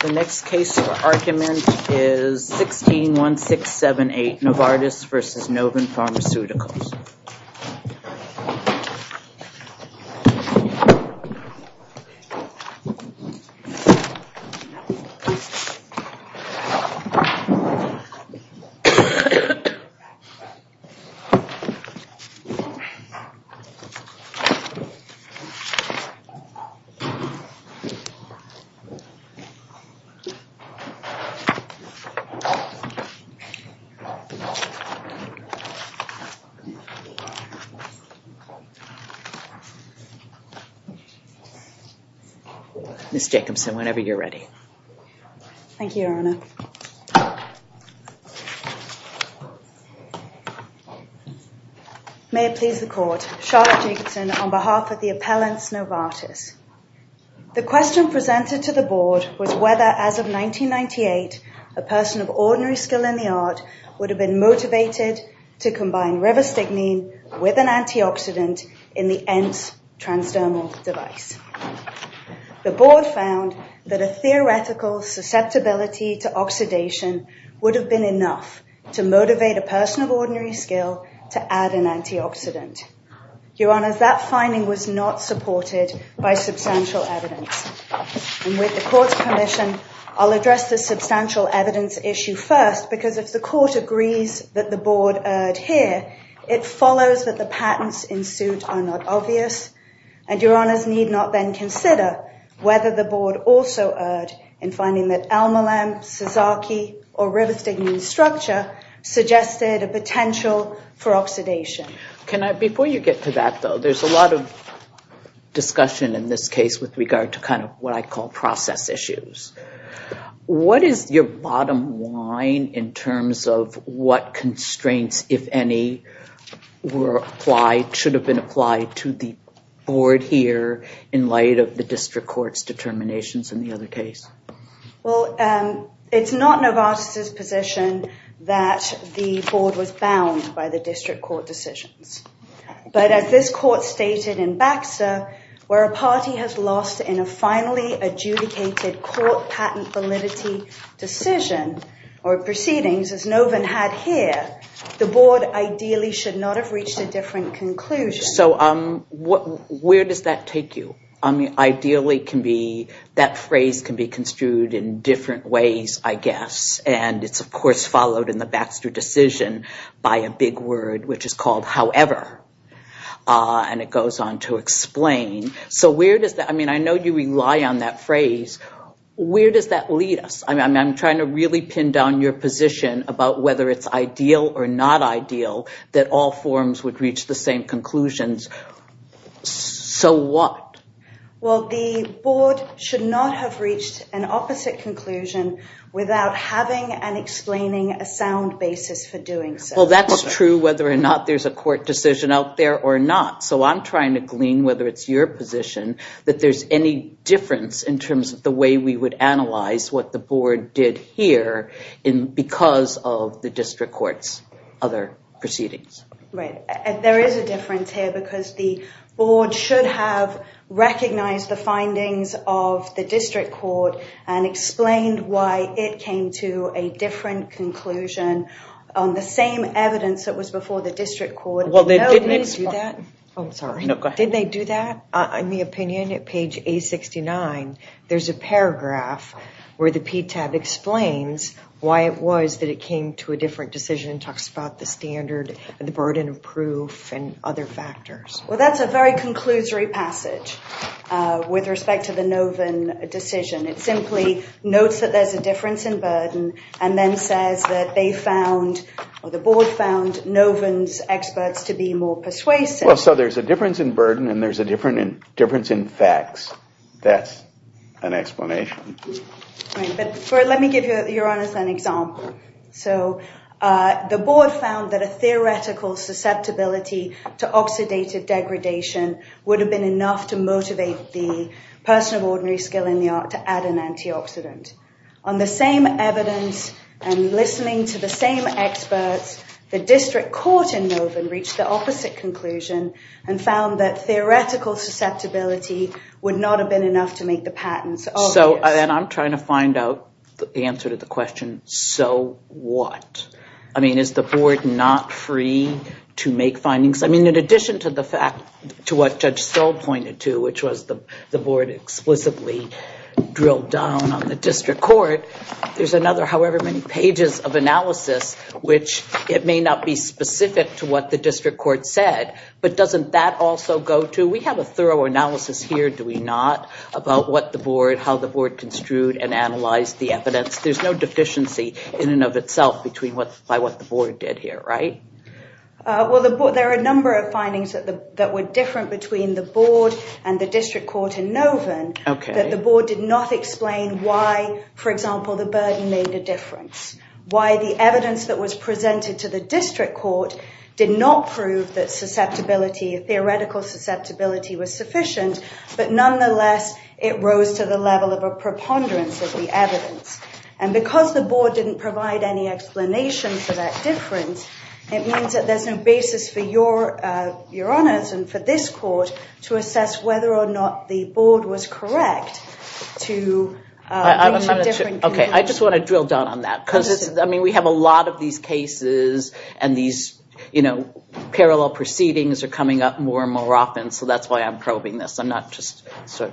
The next case for argument is 161678 Novartis v. Noven Pharmaceuticals. Ms. Jacobson, whenever you're ready. Thank you, Your Honor. May it please the court. Charlotte Jacobson on behalf of the appellant Novartis. The question presented to the board was whether, as of 1998, a person of ordinary skill in the art would have been motivated to combine rivastigmine with an antioxidant in the ENT transdermal device. The board found that a theoretical susceptibility to oxidation would have been enough to motivate a person of ordinary skill to add an antioxidant. Your Honor, that finding was not supported by substantial evidence. And with the court's permission, I'll address the substantial evidence issue first, because if the court agrees that the board erred here, it follows that the patents in suit are not obvious. And Your Honors need not then consider whether the board also erred in finding that Elmalam, Sazaki, or rivastigmine structure suggested a potential for oxidation. Before you get to that, though, there's a lot of discussion in this case with regard to kind of what I call process issues. What is your bottom line in terms of what constraints, if any, should have been applied to the board here in light of the district court's determinations in the other case? Well, it's not Novartis' position that the board was bound by the district court decisions. But as this court stated in Baxter, where a party has lost in a finally adjudicated court patent validity decision or proceedings as Novin had here, the board ideally should not have reached a different conclusion. So where does that take you? Ideally, that phrase can be construed in different ways, I guess. And it's, of course, followed in the Baxter decision by a big word, which is called however. And it goes on to explain. So where does that – I mean, I know you rely on that phrase. Where does that lead us? I mean, I'm trying to really pin down your position about whether it's ideal or not ideal that all forms would reach the same conclusions. So what? Well, the board should not have reached an opposite conclusion without having and explaining a sound basis for doing so. Well, that's true whether or not there's a court decision out there or not. So I'm trying to glean whether it's your position that there's any difference in terms of the way we would analyze what the board did here because of the district court's other proceedings. Right. There is a difference here because the board should have recognized the findings of the district court and explained why it came to a different conclusion on the same evidence that was before the district court. Well, they didn't explain – Oh, sorry. No, go ahead. Did they do that? In the opinion at page 869, there's a paragraph where the PTAB explains why it was that it came to a different decision and talks about the standard and the burden of proof and other factors. Well, that's a very conclusory passage with respect to the Noven decision. It simply notes that there's a difference in burden and then says that they found or the board found Noven's experts to be more persuasive. Well, so there's a difference in burden and there's a difference in facts. That's an explanation. But let me give you, Your Honor, an example. So the board found that a theoretical susceptibility to oxidative degradation would have been enough to motivate the person of ordinary skill in the art to add an antioxidant. On the same evidence and listening to the same experts, the district court in Noven reached the opposite conclusion and found that theoretical susceptibility would not have been enough to make the patents obvious. So – and I'm trying to find out the answer to the question, so what? I mean, is the board not free to make findings? I mean, in addition to the fact to what Judge Stoll pointed to, which was the board explicitly drilled down on the district court, there's another however many pages of analysis, which it may not be specific to what the district court said. But doesn't that also go to – we have a thorough analysis here, do we not, about what the board, how the board construed and analyzed the evidence? There's no deficiency in and of itself by what the board did here, right? Well, there are a number of findings that were different between the board and the district court in Noven, that the board did not explain why, for example, the burden made a difference. Why the evidence that was presented to the district court did not prove that susceptibility, theoretical susceptibility was sufficient, but nonetheless it rose to the level of a preponderance of the evidence. And because the board didn't provide any explanation for that difference, it means that there's no basis for your honors and for this court to assess whether or not the board was correct to reach a different conclusion. Okay, I just want to drill down on that because, I mean, we have a lot of these cases and these parallel proceedings are coming up more and more often, so that's why I'm probing this. I'm not just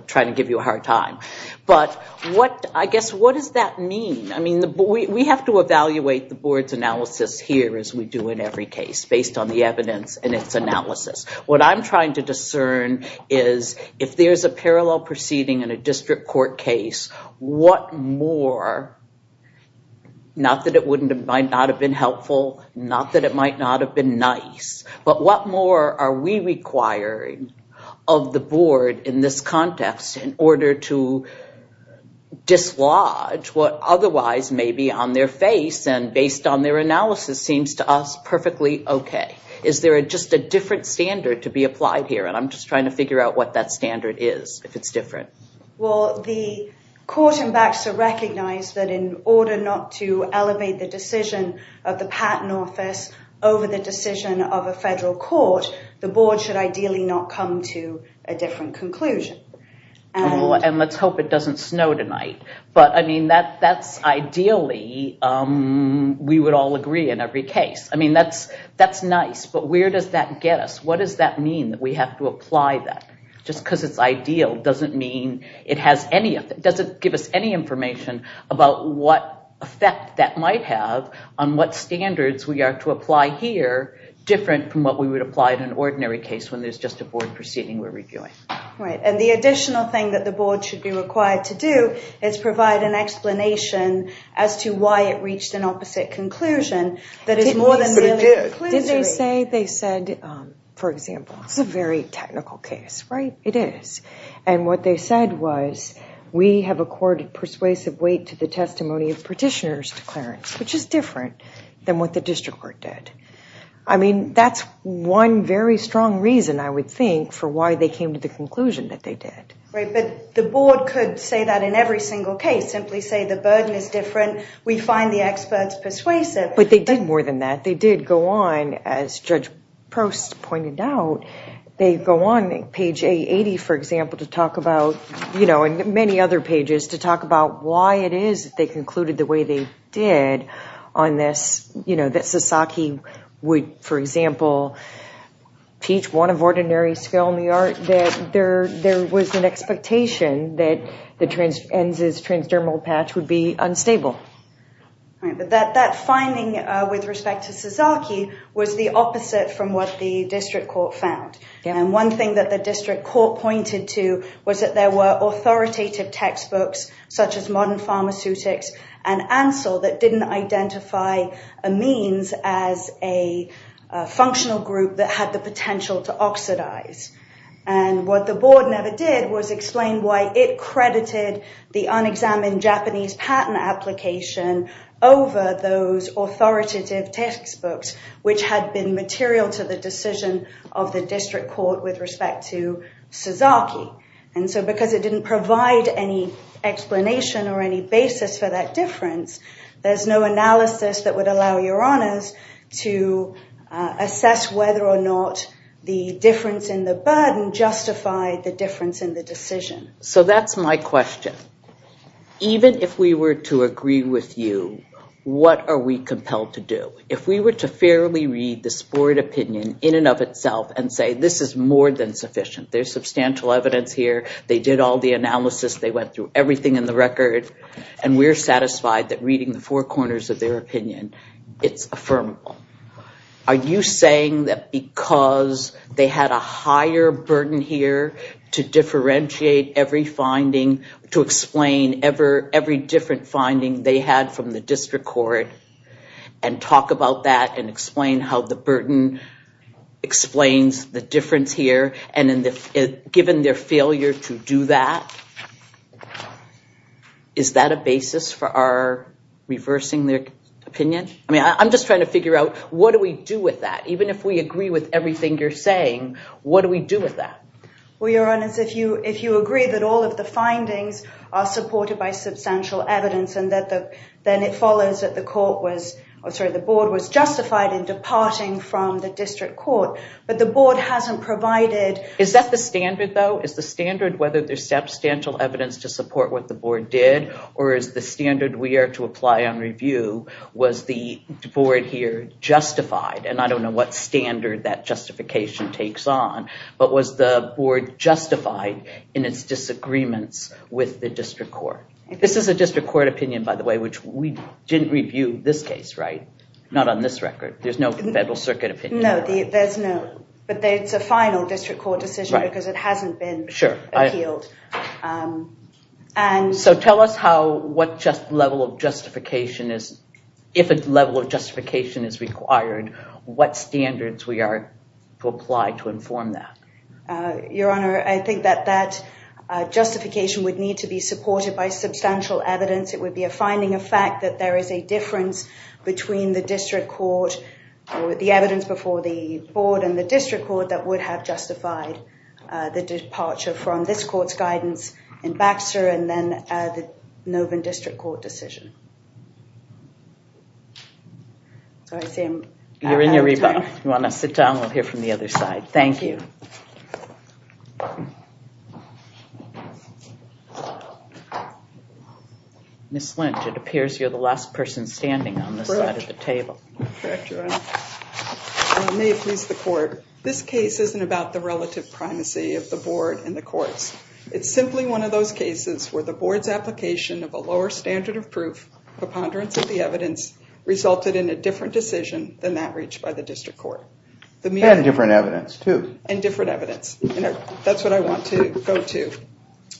trying to give you a hard time. But what, I guess, what does that mean? I mean, we have to evaluate the board's analysis here as we do in every case based on the evidence and its analysis. What I'm trying to discern is if there's a parallel proceeding in a district court case, what more, not that it might not have been helpful, not that it might not have been nice, but what more are we requiring of the board in this context in order to dislodge what otherwise may be on their face and based on their analysis seems to us perfectly okay. Is there just a different standard to be applied here? And I'm just trying to figure out what that standard is, if it's different. Well, the court and Baxter recognize that in order not to elevate the decision of the patent office over the decision of a federal court, the board should ideally not come to a different conclusion. And let's hope it doesn't snow tonight. But, I mean, that's ideally, we would all agree in every case. I mean, that's nice, but where does that get us? What does that mean that we have to apply that? Just because it's ideal doesn't mean it has any, doesn't give us any information about what effect that might have on what standards we are to apply here, different from what we would apply to an ordinary case when there's just a board proceeding we're reviewing. Right, and the additional thing that the board should be required to do is provide an explanation as to why it reached an opposite conclusion. Did they say, they said, for example, it's a very technical case, right? It is. And what they said was, we have accorded persuasive weight to the testimony of petitioners' declarants, which is different than what the district court did. I mean, that's one very strong reason, I would think, for why they came to the conclusion that they did. Right, but the board could say that in every single case, simply say the burden is different, we find the experts persuasive. But they did more than that. They did go on, as Judge Prost pointed out, they go on page A80, for example, to talk about, you know, and many other pages, to talk about why it is that they concluded the way they did on this, you know, that Sasaki would, for example, teach one of ordinary skill in the art, that there was an expectation that Enz's transdermal patch would be unstable. Right, but that finding, with respect to Sasaki, was the opposite from what the district court found. And one thing that the district court pointed to was that there were authoritative textbooks, such as Modern Pharmaceutics and Ansel, that didn't identify amines as a functional group that had the potential to oxidize. And what the board never did was explain why it credited the unexamined Japanese patent application over those authoritative textbooks, which had been material to the decision of the district court with respect to Sasaki. And so because it didn't provide any explanation or any basis for that difference, there's no analysis that would allow your honors to assess whether or not the difference in the burden justified the difference in the decision. So that's my question. Even if we were to agree with you, what are we compelled to do? If we were to fairly read the board opinion in and of itself and say this is more than sufficient, there's substantial evidence here, they did all the analysis, they went through everything in the record, and we're satisfied that reading the four corners of their opinion, it's affirmable. Are you saying that because they had a higher burden here to differentiate every finding, to explain every different finding they had from the district court, and talk about that and explain how the burden explains the difference here, and given their failure to do that, is that a basis for reversing their opinion? I'm just trying to figure out, what do we do with that? Even if we agree with everything you're saying, what do we do with that? Well, your honors, if you agree that all of the findings are supported by substantial evidence, then it follows that the board was justified in departing from the district court. But the board hasn't provided... Is that the standard, though? Is the standard whether there's substantial evidence to support what the board did, or is the standard we are to apply on review, was the board here justified? And I don't know what standard that justification takes on, but was the board justified in its disagreements with the district court? This is a district court opinion, by the way, which we didn't review this case, right? Not on this record. There's no federal circuit opinion. No, there's no, but it's a final district court decision because it hasn't been appealed. So tell us how, what level of justification is, if a level of justification is required, what standards we are to apply to inform that? Your honor, I think that that justification would need to be supported by substantial evidence. It would be a finding of fact that there is a difference between the district court, the evidence before the board and the district court, that would have justified the departure from this court's guidance in Baxter and then the Novan district court decision. You're in your rebuttal. You want to sit down? We'll hear from the other side. Thank you. Ms. Lynch, it appears you're the last person standing on this side of the table. May it please the court. This case isn't about the relative primacy of the board and the courts. It's simply one of those cases where the board's application of a lower standard of proof, preponderance of the evidence, resulted in a different decision than that reached by the district court. And different evidence, too.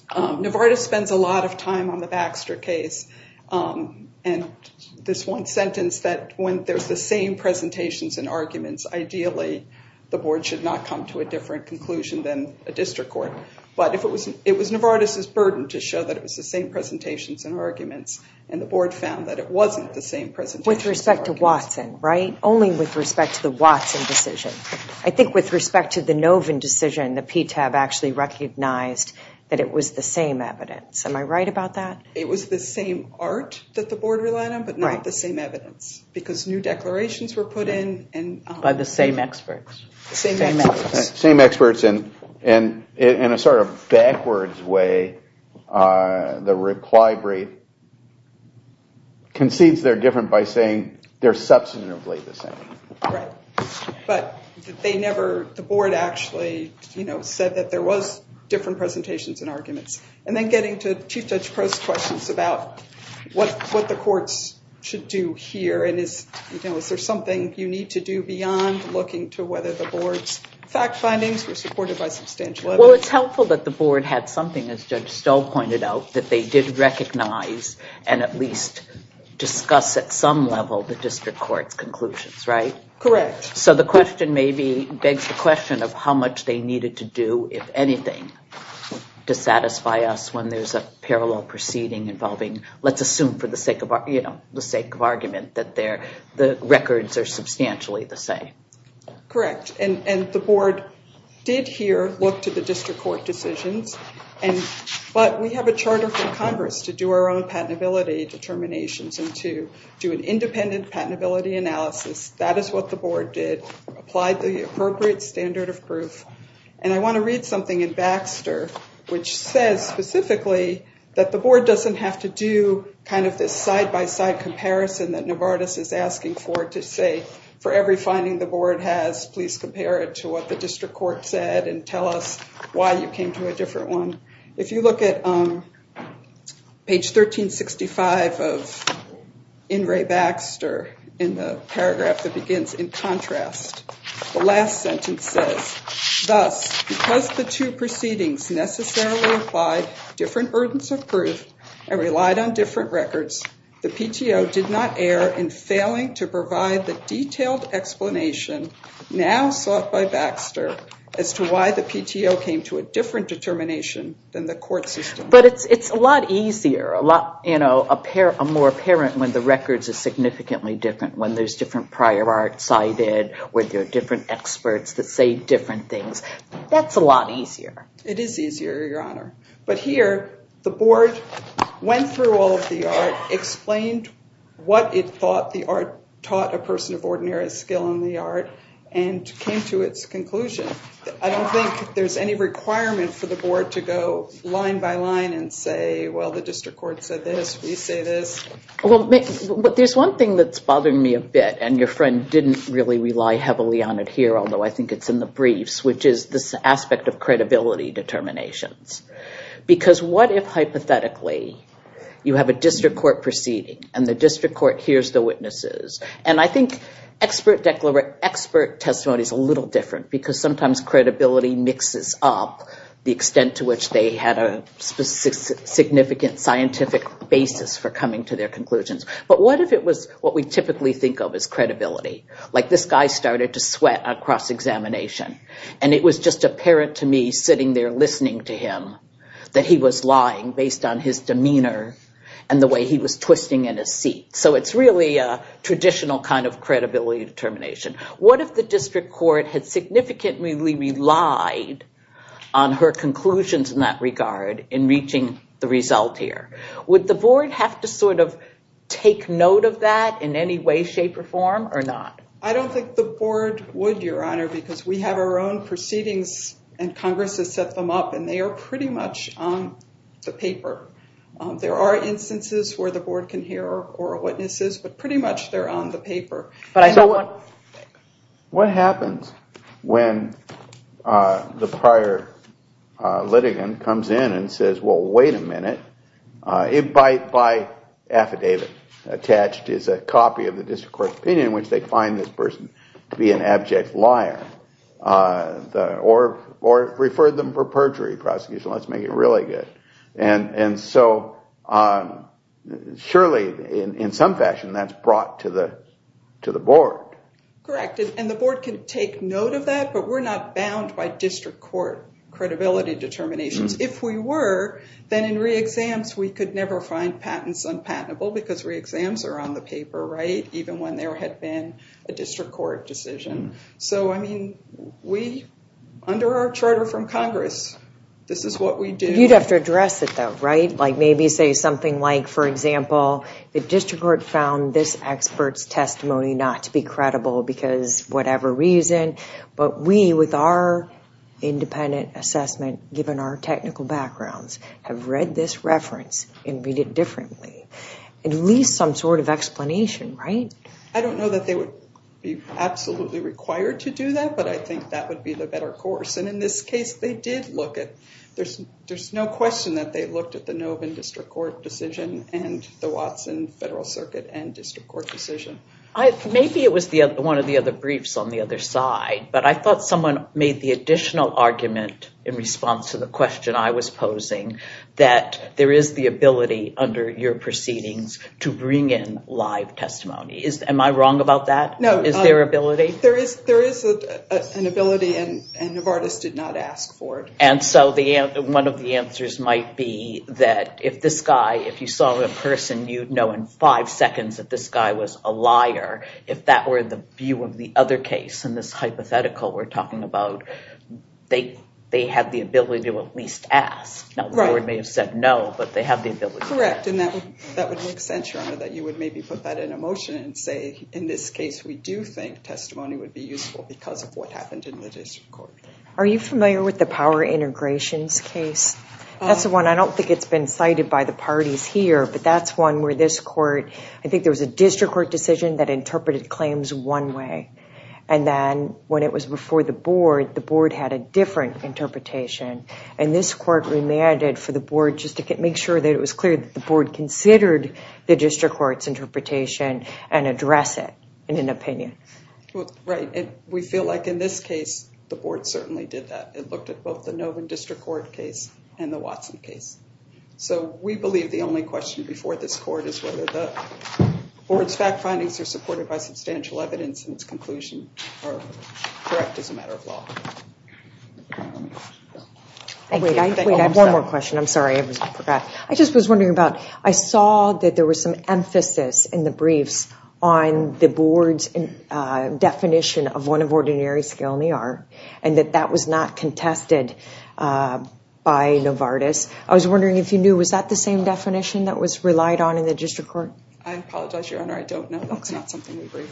Novartis spends a lot of time on the Baxter case. And this one sentence that when there's the same presentations and arguments, ideally the board should not come to a different conclusion than a district court. But it was Novartis' burden to show that it was the same presentations and arguments, and the board found that it wasn't the same presentations and arguments. Only with respect to Watson, right? Only with respect to the Watson decision. I think with respect to the Novan decision, the PTAB actually recognized that it was the same evidence. Am I right about that? It was the same art that the board relied on, but not the same evidence. Because new declarations were put in. By the same experts. Same experts. Same experts. And in a sort of backwards way, the reply rate concedes they're different by saying they're substantively the same. Right. But the board actually said that there was different presentations and arguments. And then getting to Chief Judge Prost's questions about what the courts should do here, and is there something you need to do beyond looking to whether the board's fact findings were supported by substantial evidence? Well, it's helpful that the board had something, as Judge Stoll pointed out, that they did recognize and at least discuss at some level the district court's conclusions, right? Correct. So the question maybe begs the question of how much they needed to do, if anything, to satisfy us when there's a parallel proceeding involving, let's assume for the sake of argument, that the records are substantially the same. Correct. And the board did here look to the district court decisions. But we have a charter from Congress to do our own patentability determinations and to do an independent patentability analysis. That is what the board did. Applied the appropriate standard of proof. And I want to read something in Baxter, which says specifically that the board doesn't have to do kind of this side-by-side comparison that Novartis is asking for to say, for every finding the board has, please compare it to what the district court said and tell us why you came to a different one. If you look at page 1365 of In Re Baxter in the paragraph that begins, in contrast, the last sentence says, thus, because the two proceedings necessarily applied different burdens of proof and relied on different records, the PTO did not err in failing to provide the detailed explanation now sought by Baxter as to why the PTO came to a different determination. But it's a lot easier, a lot more apparent when the records are significantly different, when there's different prior art cited, where there are different experts that say different things. That's a lot easier. It is easier, Your Honor. But here, the board went through all of the art, explained what it thought the art taught a person of ordinary skill in the art, and came to its conclusion. I don't think there's any requirement for the board to go line by line and say, well, the district court said this, we say this. Well, there's one thing that's bothering me a bit, and your friend didn't really rely heavily on it here, although I think it's in the briefs, which is this aspect of credibility determinations. Because what if, hypothetically, you have a district court proceeding, and the district court hears the witnesses? And I think expert testimony is a little different, because sometimes credibility mixes up the extent to which they had a significant scientific basis for coming to their conclusions. But what if it was what we typically think of as credibility? Like this guy started to sweat on cross-examination, and it was just apparent to me sitting there listening to him that he was lying based on his demeanor and the way he was twisting in his seat. So it's really a traditional kind of credibility determination. What if the district court had significantly relied on her conclusions in that regard in reaching the result here? Would the board have to sort of take note of that in any way, shape, or form, or not? I don't think the board would, Your Honor, because we have our own proceedings, and Congress has set them up, and they are pretty much on the paper. There are instances where the board can hear oral witnesses, but pretty much they're on the paper. What happens when the prior litigant comes in and says, well, wait a minute, by affidavit attached is a copy of the district court opinion in which they find this person to be an abject liar? Or refer them for perjury prosecution, let's make it really good. And so surely in some fashion that's brought to the board. Correct, and the board can take note of that, but we're not bound by district court credibility determinations. If we were, then in re-exams we could never find patents unpatentable because re-exams are on the paper, right, even when there had been a district court decision. So, I mean, we, under our charter from Congress, this is what we do. You'd have to address it, though, right? Like maybe say something like, for example, the district court found this expert's testimony not to be credible because whatever reason, but we, with our independent assessment, given our technical backgrounds, have read this reference and read it differently. At least some sort of explanation, right? I don't know that they would be absolutely required to do that, but I think that would be the better course. And in this case they did look at, there's no question that they looked at the Novan district court decision and the Watson federal circuit and district court decision. Maybe it was one of the other briefs on the other side, but I thought someone made the additional argument in response to the question I was posing that there is the ability under your proceedings to bring in live testimony. Am I wrong about that? No. Is there ability? There is an ability and Novartis did not ask for it. And so one of the answers might be that if this guy, if you saw a person, you'd know in five seconds that this guy was a liar. If that were the view of the other case in this hypothetical we're talking about, they had the ability to at least ask. Not that we may have said no, but they have the ability. Correct. And that would make sense, Rhonda, that you would maybe put that in a motion and say, in this case, we do think testimony would be useful because of what happened in the district court. Are you familiar with the power integrations case? That's the one I don't think it's been cited by the parties here, but that's one where this court, I think there was a district court decision that interpreted claims one way. And then when it was before the board, the board had a different interpretation. And this court remanded for the board just to make sure that it was clear that the board considered the district court's interpretation and address it in an opinion. Right. And we feel like in this case, the board certainly did that. It looked at both the Novan district court case and the Watson case. So we believe the only question before this court is whether the board's fact findings are supported by substantial evidence and its conclusion are correct as a matter of law. I have one more question. I'm sorry, I forgot. I just was wondering about, I saw that there was some emphasis in the briefs on the board's definition of one of ordinary skill in the art and that that was not contested by Novartis. I was wondering if you knew, was that the same definition that was relied on in the district court? I apologize, Your Honor, I don't know. That's not something we agree.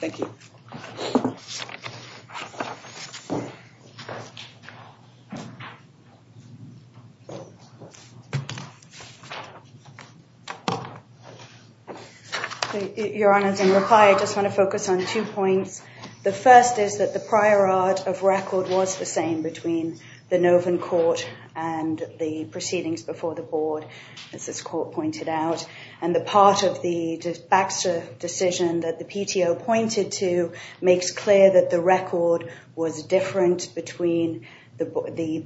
Thank you. Your Honor, in reply, I just want to focus on two points. The first is that the prior art of record was the same between the Novartis court and the proceedings before the board, as this court pointed out. And the part of the Baxter decision that the PTO pointed to makes clear that the record was different between the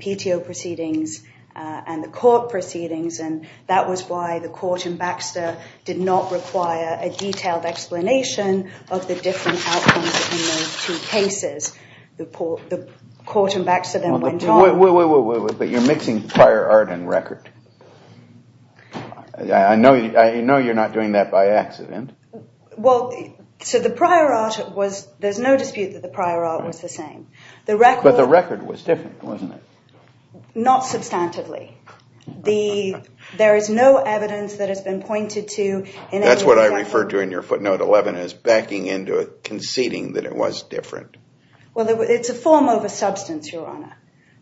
PTO proceedings and the court proceedings. And that was why the court in Baxter did not require a detailed explanation of the different outcomes in those two cases. The court in Baxter then went on. But you're mixing prior art and record. I know you're not doing that by accident. Well, so the prior art was, there's no dispute that the prior art was the same. But the record was different, wasn't it? Not substantively. There is no evidence that has been pointed to. That's what I referred to in your footnote 11 as backing into conceding that it was different. Well, it's a form of a substance, Your Honor.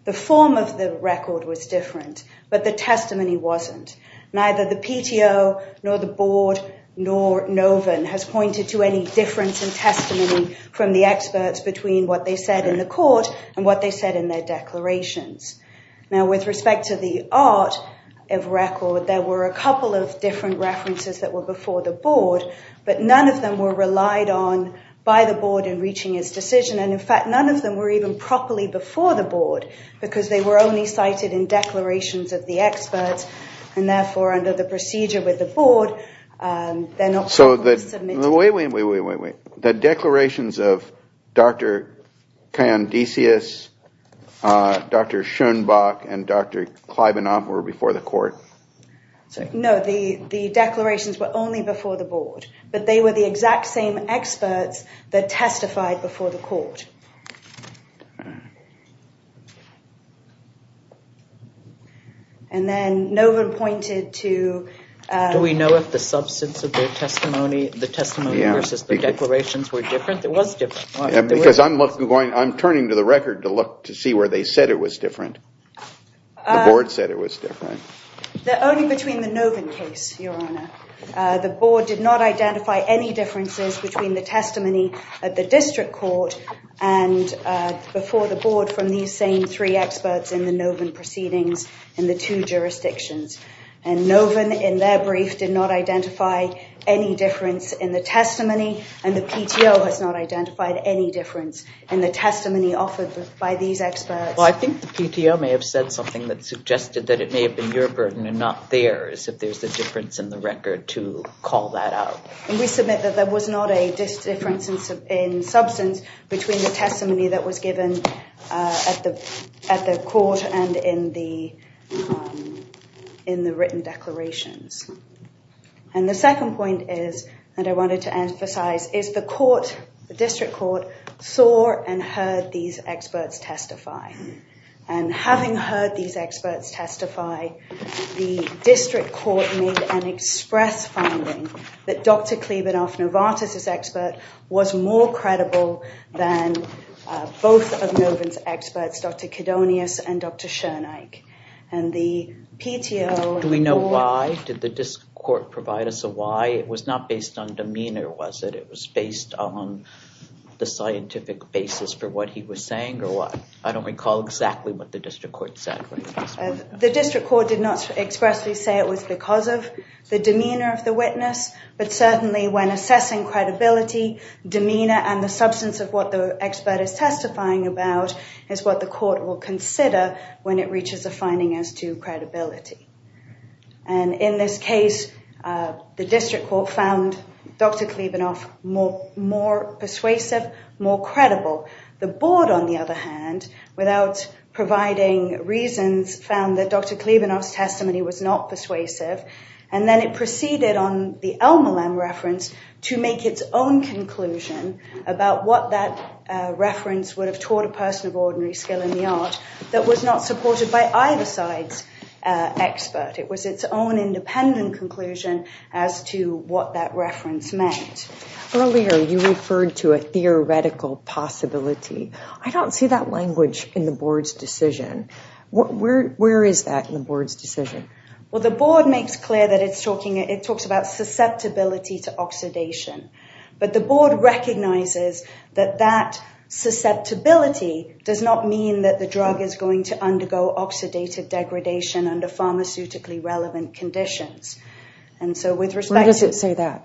The form of the record was different, but the testimony wasn't. Neither the PTO, nor the board, nor Novan has pointed to any difference in testimony from the experts between what they said in the court and what they said in their declarations. Now, with respect to the art of record, there were a couple of different references that were before the board, but none of them were relied on by the board in reaching its decision. And in fact, none of them were even properly before the board because they were only cited in declarations of the experts. And therefore, under the procedure with the board, they're not. So the way we wait, wait, wait, wait, wait, wait. The declarations of Dr. Kandaceous, Dr. Schoenbach, and Dr. Kleibanov were before the court. No, the declarations were only before the board, but they were the exact same experts that testified before the court. And then Novan pointed to... Do we know if the substance of their testimony, the testimony versus the declarations were different? It was different. Because I'm turning to the record to look to see where they said it was different. The board said it was different. Only between the Novan case, Your Honor. The board did not identify any differences between the testimony at the district court and before the board from these same three experts in the Novan proceedings in the two jurisdictions. And Novan, in their brief, did not identify any difference in the testimony, and the PTO has not identified any difference in the testimony offered by these experts. Well, I think the PTO may have said something that suggested that it may have been your burden and not theirs if there's a difference in the record to call that out. And we submit that there was not a difference in substance between the testimony that was given at the court and in the written declarations. And the second point is, and I wanted to emphasize, is the court, the district court, saw and heard these experts testify. And having heard these experts testify, the district court made an express finding that Dr. Klebanoff-Novartis' expert was more credible than both of Novan's experts, Dr. Kedonius and Dr. Schoenike. Do we know why? Did the district court provide us a why? It was not based on demeanor, was it? It was based on the scientific basis for what he was saying, or what? I don't recall exactly what the district court said. The district court did not expressly say it was because of the demeanor of the witness. But certainly when assessing credibility, demeanor, and the substance of what the expert is testifying about is what the court will consider when it reaches a finding as to credibility. And in this case, the district court found Dr. Klebanoff more persuasive, more credible. The board, on the other hand, without providing reasons, found that Dr. Klebanoff's testimony was not persuasive. And then it proceeded on the Elmer Lem reference to make its own conclusion about what that reference would have taught a person of ordinary skill in the art that was not supported by either side's expert. It was its own independent conclusion as to what that reference meant. Earlier, you referred to a theoretical possibility. I don't see that language in the board's decision. Where is that in the board's decision? Well, the board makes clear that it talks about susceptibility to oxidation. But the board recognizes that that susceptibility does not mean that the drug is going to undergo oxidative degradation under pharmaceutically relevant conditions. Where does it say that?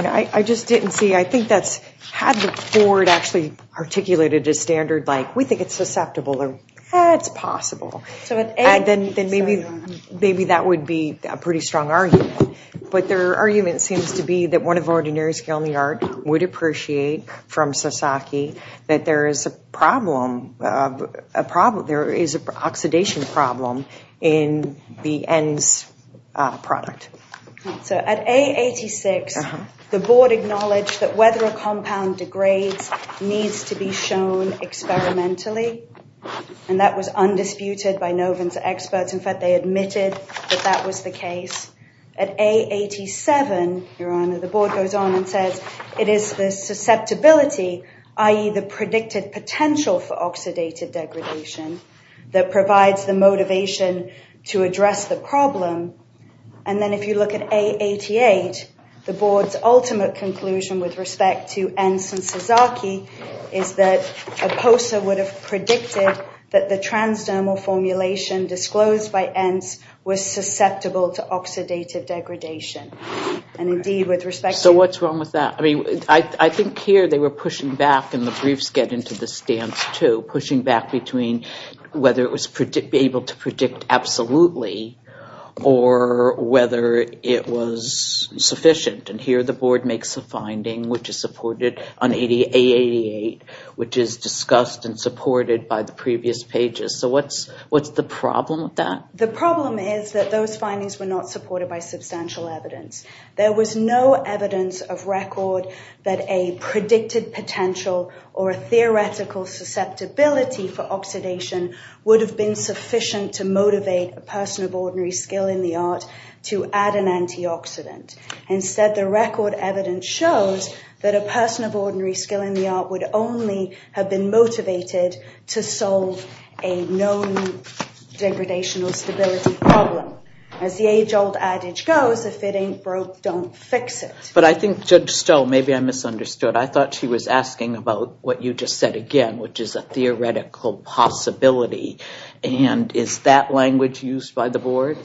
I just didn't see. I think that's had the board actually articulated a standard like, we think it's susceptible, or it's possible. Then maybe that would be a pretty strong argument. But their argument seems to be that one of ordinary skill in the art would appreciate from Sasaki that there is a problem, there is an oxidation problem in the end product. So at A86, the board acknowledged that whether a compound degrades needs to be shown experimentally. And that was undisputed by Noven's experts. In fact, they admitted that that was the case. At A87, Your Honor, the board goes on and says it is the susceptibility, i.e., the predicted potential for oxidative degradation that provides the motivation to address the problem. And then if you look at A88, the board's ultimate conclusion with respect to Entz and Sasaki is that a POSA would have predicted that the transdermal formulation disclosed by Entz was susceptible to oxidative degradation. So what's wrong with that? I think here they were pushing back, and the briefs get into this stance too, pushing back between whether it was able to predict absolutely or whether it was sufficient. And here the board makes a finding which is supported on A88, which is discussed and supported by the previous pages. So what's the problem with that? The problem is that those findings were not supported by substantial evidence. There was no evidence of record that a predicted potential or a theoretical susceptibility for oxidation would have been sufficient to motivate a person of ordinary skill in the art to add an antioxidant. Instead, the record evidence shows that a person of ordinary skill in the art would only have been motivated to solve a known degradational stability problem. As the age-old adage goes, if it ain't broke, don't fix it. But I think Judge Stowe, maybe I misunderstood. I thought she was asking about what you just said again, which is a theoretical possibility. And is that language used by the board?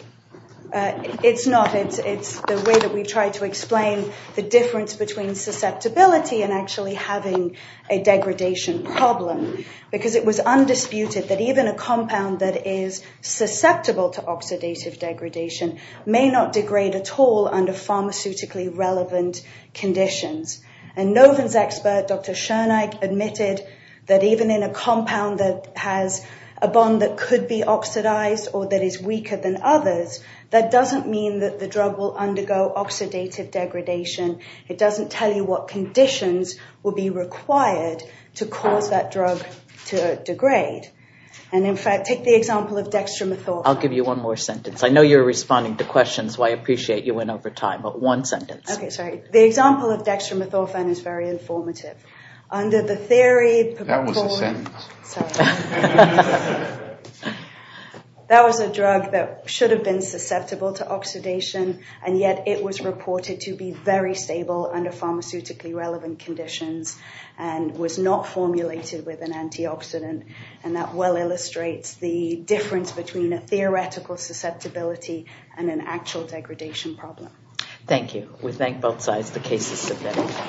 It's not. It's the way that we try to explain the difference between susceptibility and actually having a degradation problem. Because it was undisputed that even a compound that is susceptible to oxidative degradation may not degrade at all under pharmaceutically relevant conditions. And Noven's expert, Dr. Schoenig, admitted that even in a compound that has a bond that could be oxidized or that is weaker than others, that doesn't mean that the drug will undergo oxidative degradation. It doesn't tell you what conditions will be required to cause that drug to degrade. And in fact, take the example of dextromethorphan. I'll give you one more sentence. I know you're responding to questions, so I appreciate you went over time. But one sentence. Okay, sorry. The example of dextromethorphan is very informative. Under the theory... That was a sentence. Sorry. That was a drug that should have been susceptible to oxidation, and yet it was reported to be very stable under pharmaceutically relevant conditions and was not formulated with an antioxidant. And that well illustrates the difference between a theoretical susceptibility and an actual degradation problem. Thank you. We thank both sides. The case is submitted.